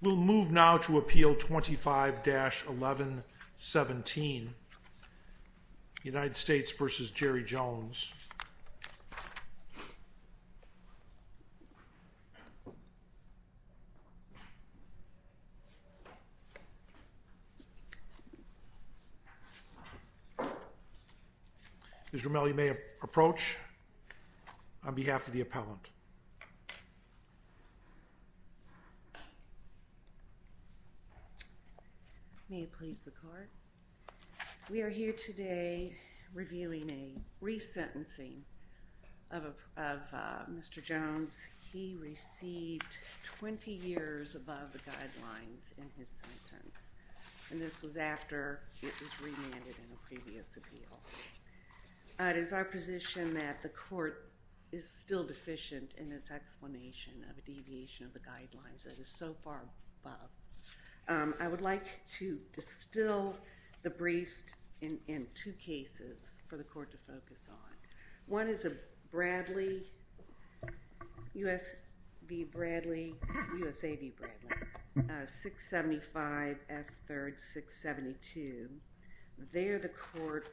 We'll move now to Appeal 25-1117, United States v. Jerry Jones. Ms. Rommel, you may approach on behalf of the appellant. May it please the Court. We are here today revealing a re-sentencing of Mr. Jones. He received 20 years above the guidelines in his sentence, and this was after it was remanded in a previous appeal. It is our position that the Court is still deficient in its explanation of a deviation of the guidelines that is so far above. I would like to distill the briefs in two cases for the Court to focus on. One is a Bradley, U.S. v. Bradley, U.S.A. v. Bradley, 675 F. 3rd, 672. There, the Court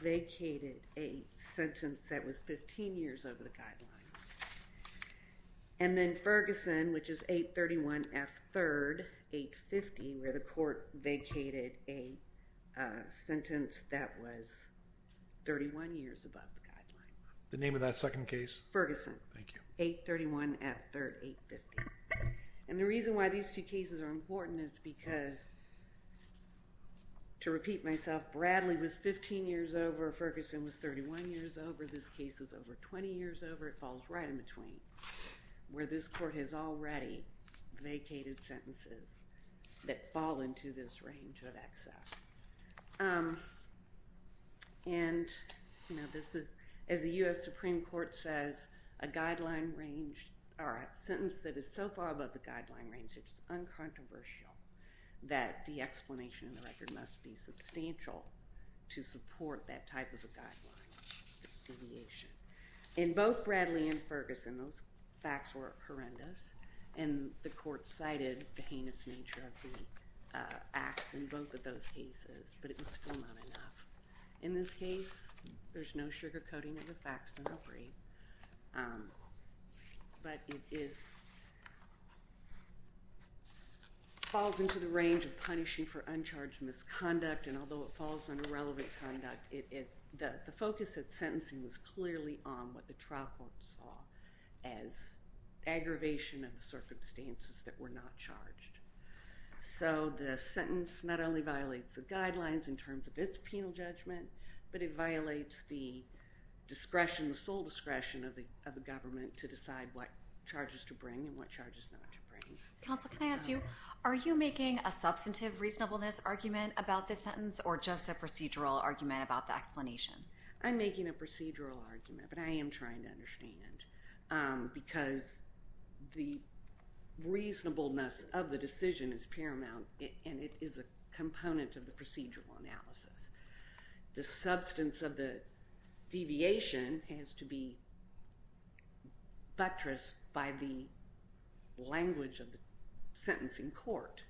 vacated a sentence that was 15 years over the guidelines. And then Ferguson, which is 831 F. 3rd, 850, where the Court vacated a sentence that was 31 years above the guidelines. The name of that second case? Thank you. 831 F. 3rd, 850. And the reason why these two cases are important is because, to repeat myself, Bradley was 15 years over, Ferguson was 31 years over, this case is over 20 years over, it falls right in between, where this Court has already vacated sentences that fall into this range of excess. And, you know, this is, as the U.S. Supreme Court says, a guideline range, or a sentence that is so far above the guideline range, it's uncontroversial, that the explanation of the record must be substantial to support that type of a guideline deviation. In both Bradley and Ferguson, those facts were horrendous, and the Court cited the heinous nature of the acts in both of those cases, but it was still not enough. In this case, there's no sugarcoating it with facts, and I'll breathe, but it is, falls into the range of punishing for uncharged misconduct, and although it falls under relevant conduct, it is, the focus of sentencing was clearly on what the trial court saw as aggravation of the circumstances that were not charged. So the sentence not only violates the guidelines in terms of its penal judgment, but it violates the discretion, the sole discretion of the government to decide what charges to bring and what charges not to bring. Counsel, can I ask you, are you making a substantive reasonableness argument about this sentence, or just a procedural argument about the explanation? I'm making a procedural argument, but I am trying to understand, because the reasonableness of the decision is paramount, and it is a component of the procedural analysis. The substance of the deviation has to be buttressed by the language of the sentencing court.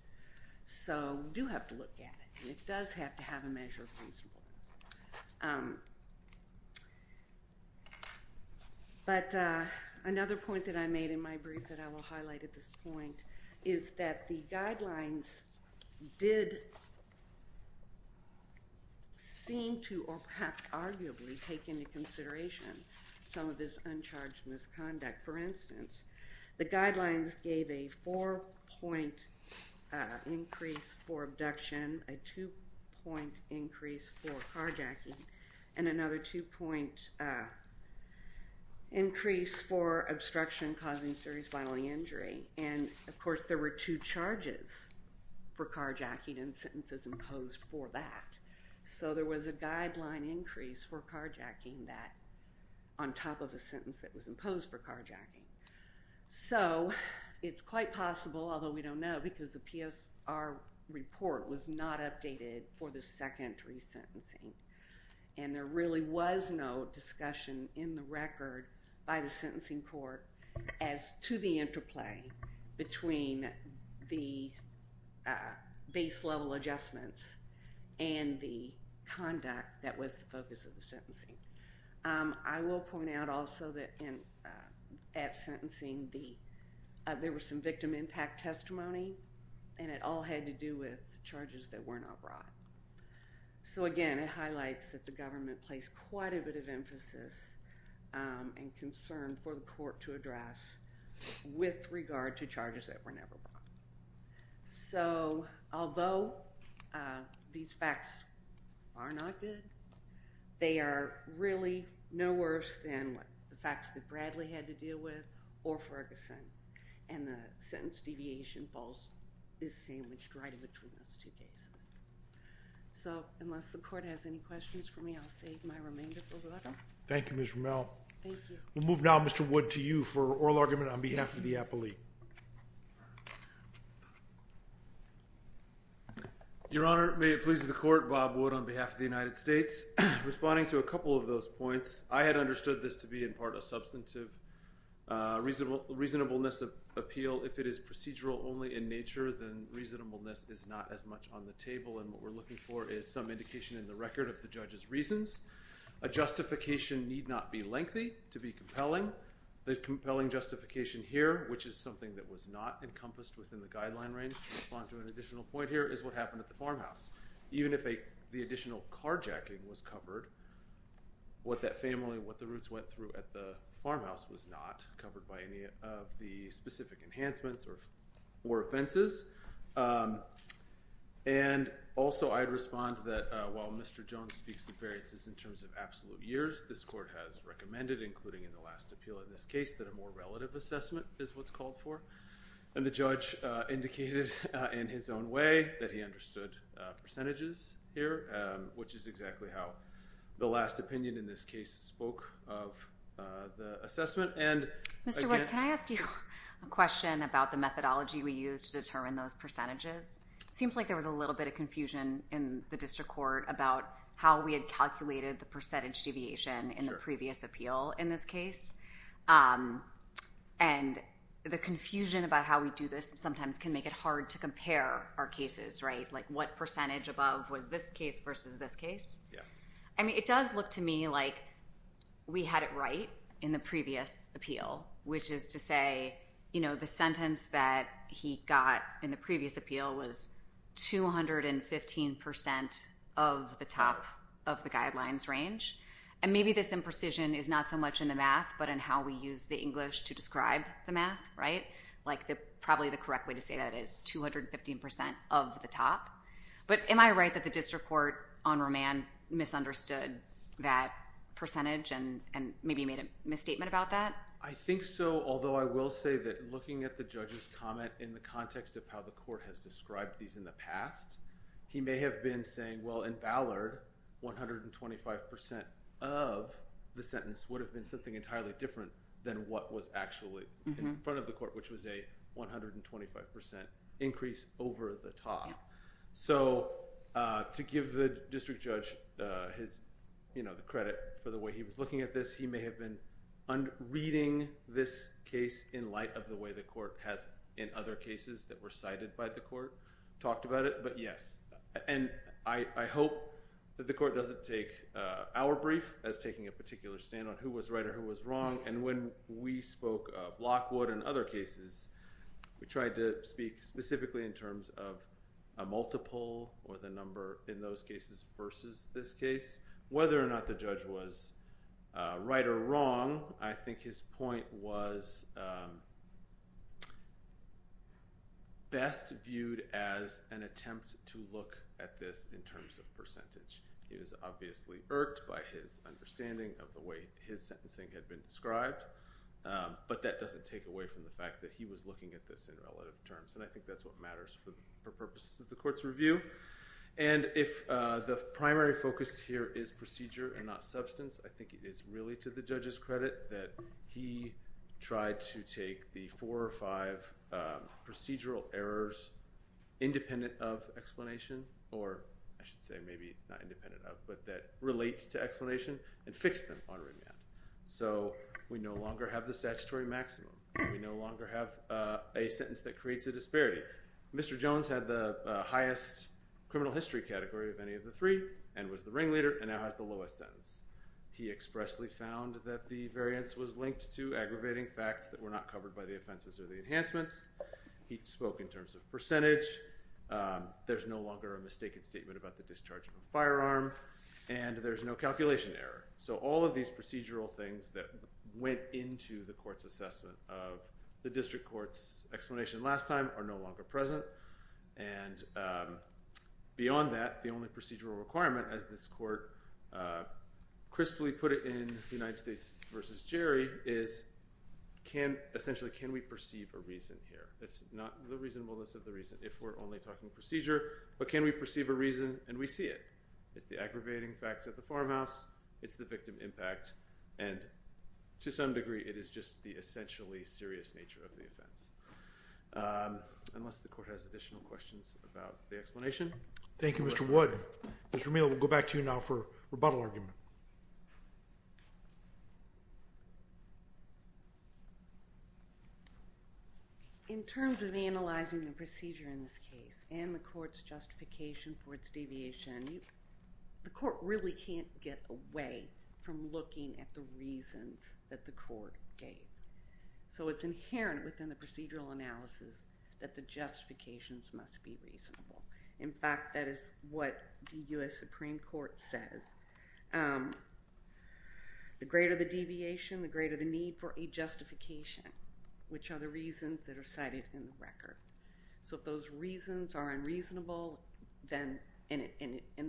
So we do have to look at it, and it does have to have a measure of principle. But another point that I made in my brief that I will highlight at this point is that the guidelines did seem to, or perhaps arguably, take into consideration some of this uncharged misconduct. For instance, the guidelines gave a four-point increase for abduction, a two-point increase for carjacking, and another two-point increase for obstruction causing serious bodily injury. And of course, there were two charges for carjacking and sentences imposed for that. So there was a guideline increase for carjacking that, on top of a sentence that was imposed for carjacking. So it's quite possible, although we don't know, because the PSR report was not updated for the secondary sentencing. And there really was no discussion in the record by the sentencing court as to the interplay between the base-level adjustments and the conduct that was the focus of the sentencing. I will point out also that at sentencing, there were some victim impact testimony, and it all had to do with charges that were not brought. So again, it highlights that the government placed quite a bit of emphasis and concern for the court to address with regard to charges that were never brought. So although these facts are not good, they are really no worse than the facts that Bradley had to deal with or Ferguson. And the sentence deviation falls, is sandwiched right in between those two cases. So unless the court has any questions for me, I'll save my remainder for later. Thank you, Ms. Rummel. Thank you. We'll move now, Mr. Wood, to you for oral argument on behalf of the appellee. Your Honor, may it please the court, Bob Wood on behalf of the United States. Responding to a couple of those points, I had understood this to be in part a substantive reasonableness appeal. If it is procedural only in nature, then reasonableness is not as much on the table. And what we're looking for is some indication in the record of the judge's reasons. A justification need not be lengthy to be compelling. The compelling justification here, which is something that was not encompassed within the guideline range, to respond to an additional point here, is what happened at the farmhouse. Even if the additional carjacking was covered, what that family, what the roots went through at the farmhouse was not covered by any of the specific enhancements or offenses. And also, I'd respond that while Mr. Jones speaks of variances in terms of absolute years, this court has recommended, including in the last appeal in this case, that a more relative assessment is what's called for. And the judge indicated in his own way that he understood percentages here, which is exactly how the last opinion in this case spoke of the assessment. And again- Mr. Wood, can I ask you a question about the methodology we used to determine those percentages? Seems like there was a little bit of confusion in the district court about how we had calculated the percentage deviation in the previous appeal in this case. And the confusion about how we do this sometimes can make it hard to compare our cases, right? What percentage above was this case versus this case? It does look to me like we had it right in the previous appeal, which is to say the sentence that he got in the previous appeal was 215% of the top of the guidelines range. And maybe this imprecision is not so much in the math, but in how we use the English to describe the math, right? Like probably the correct way to say that is 215% of the top. But am I right that the district court on remand misunderstood that percentage and maybe made a misstatement about that? I think so. Although I will say that looking at the judge's comment in the context of how the court has described these in the past, he may have been saying, well, in Ballard, 125% of the sentence would have been something entirely different than what was actually in front of the court, which was a 125% increase over the top. So to give the district judge the credit for the way he was looking at this, he may have been reading this case in light of the way the court has in other cases that were cited by the court, talked about it, but yes. And I hope that the court doesn't take our brief as taking a particular stand on who was right or who was wrong. And when we spoke of Lockwood and other cases, we tried to speak specifically in terms of a multiple or the number in those cases versus this case, whether or not the judge was right or wrong, I think his point was best viewed as an attempt to look at this in terms of percentage. He was obviously irked by his understanding of the way his sentencing had been described, but that doesn't take away from the fact that he was looking at this in relative terms. And I think that's what matters for purposes of the court's review. And if the primary focus here is procedure and not substance, I think it is really to the judge's credit that he tried to take the four or five procedural errors independent of explanation, or I should say maybe not independent of, but that relate to explanation and fix them on remand. So we no longer have the statutory maximum. We no longer have a sentence that creates a disparity. Mr. Jones had the highest criminal history category of any of the three and was the ringleader and now has the lowest sentence. He expressly found that the variance was linked to aggravating facts that were not covered by the offenses or the enhancements. He spoke in terms of percentage. There's no longer a mistaken statement about the discharge of a firearm, and there's no calculation error. So all of these procedural things that went into the court's assessment of the district court's explanation last time are no longer present. And beyond that, the only procedural requirement, as this court crisply put it in the United States v. Jerry, is essentially, can we perceive a reason here? That's not the reasonableness of the reason if we're only talking procedure, but can we perceive a reason? And we see it. It's the aggravating facts at the farmhouse. It's the victim impact. And to some degree, it is just the essentially serious nature of the offense, unless the court has additional questions about the explanation. Thank you, Mr. Wood. Ms. Ramil, we'll go back to you now for rebuttal argument. In terms of analyzing the procedure in this case and the court's justification for its deviation, the court really can't get away from looking at the reasons that the court gave. So it's inherent within the procedural analysis that the justifications must be reasonable. In fact, that is what the U.S. Supreme Court says. The greater the deviation, the greater the need for a justification, which are the reasons that are cited in the record. So if those reasons are unreasonable and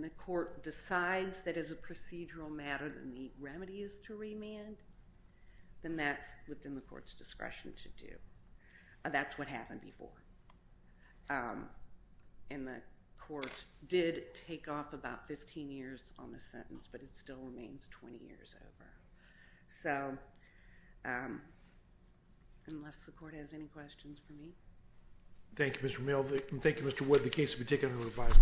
the court decides that as a procedural matter that we need remedies to remand, then that's within the court's discretion to do. That's what happened before. And the court did take off about 15 years on the sentence, but it still remains 20 years over. So, unless the court has any questions for me. Thank you, Ms. Ramil. And thank you, Mr. Wood. The case will be taken under revision. Thank you.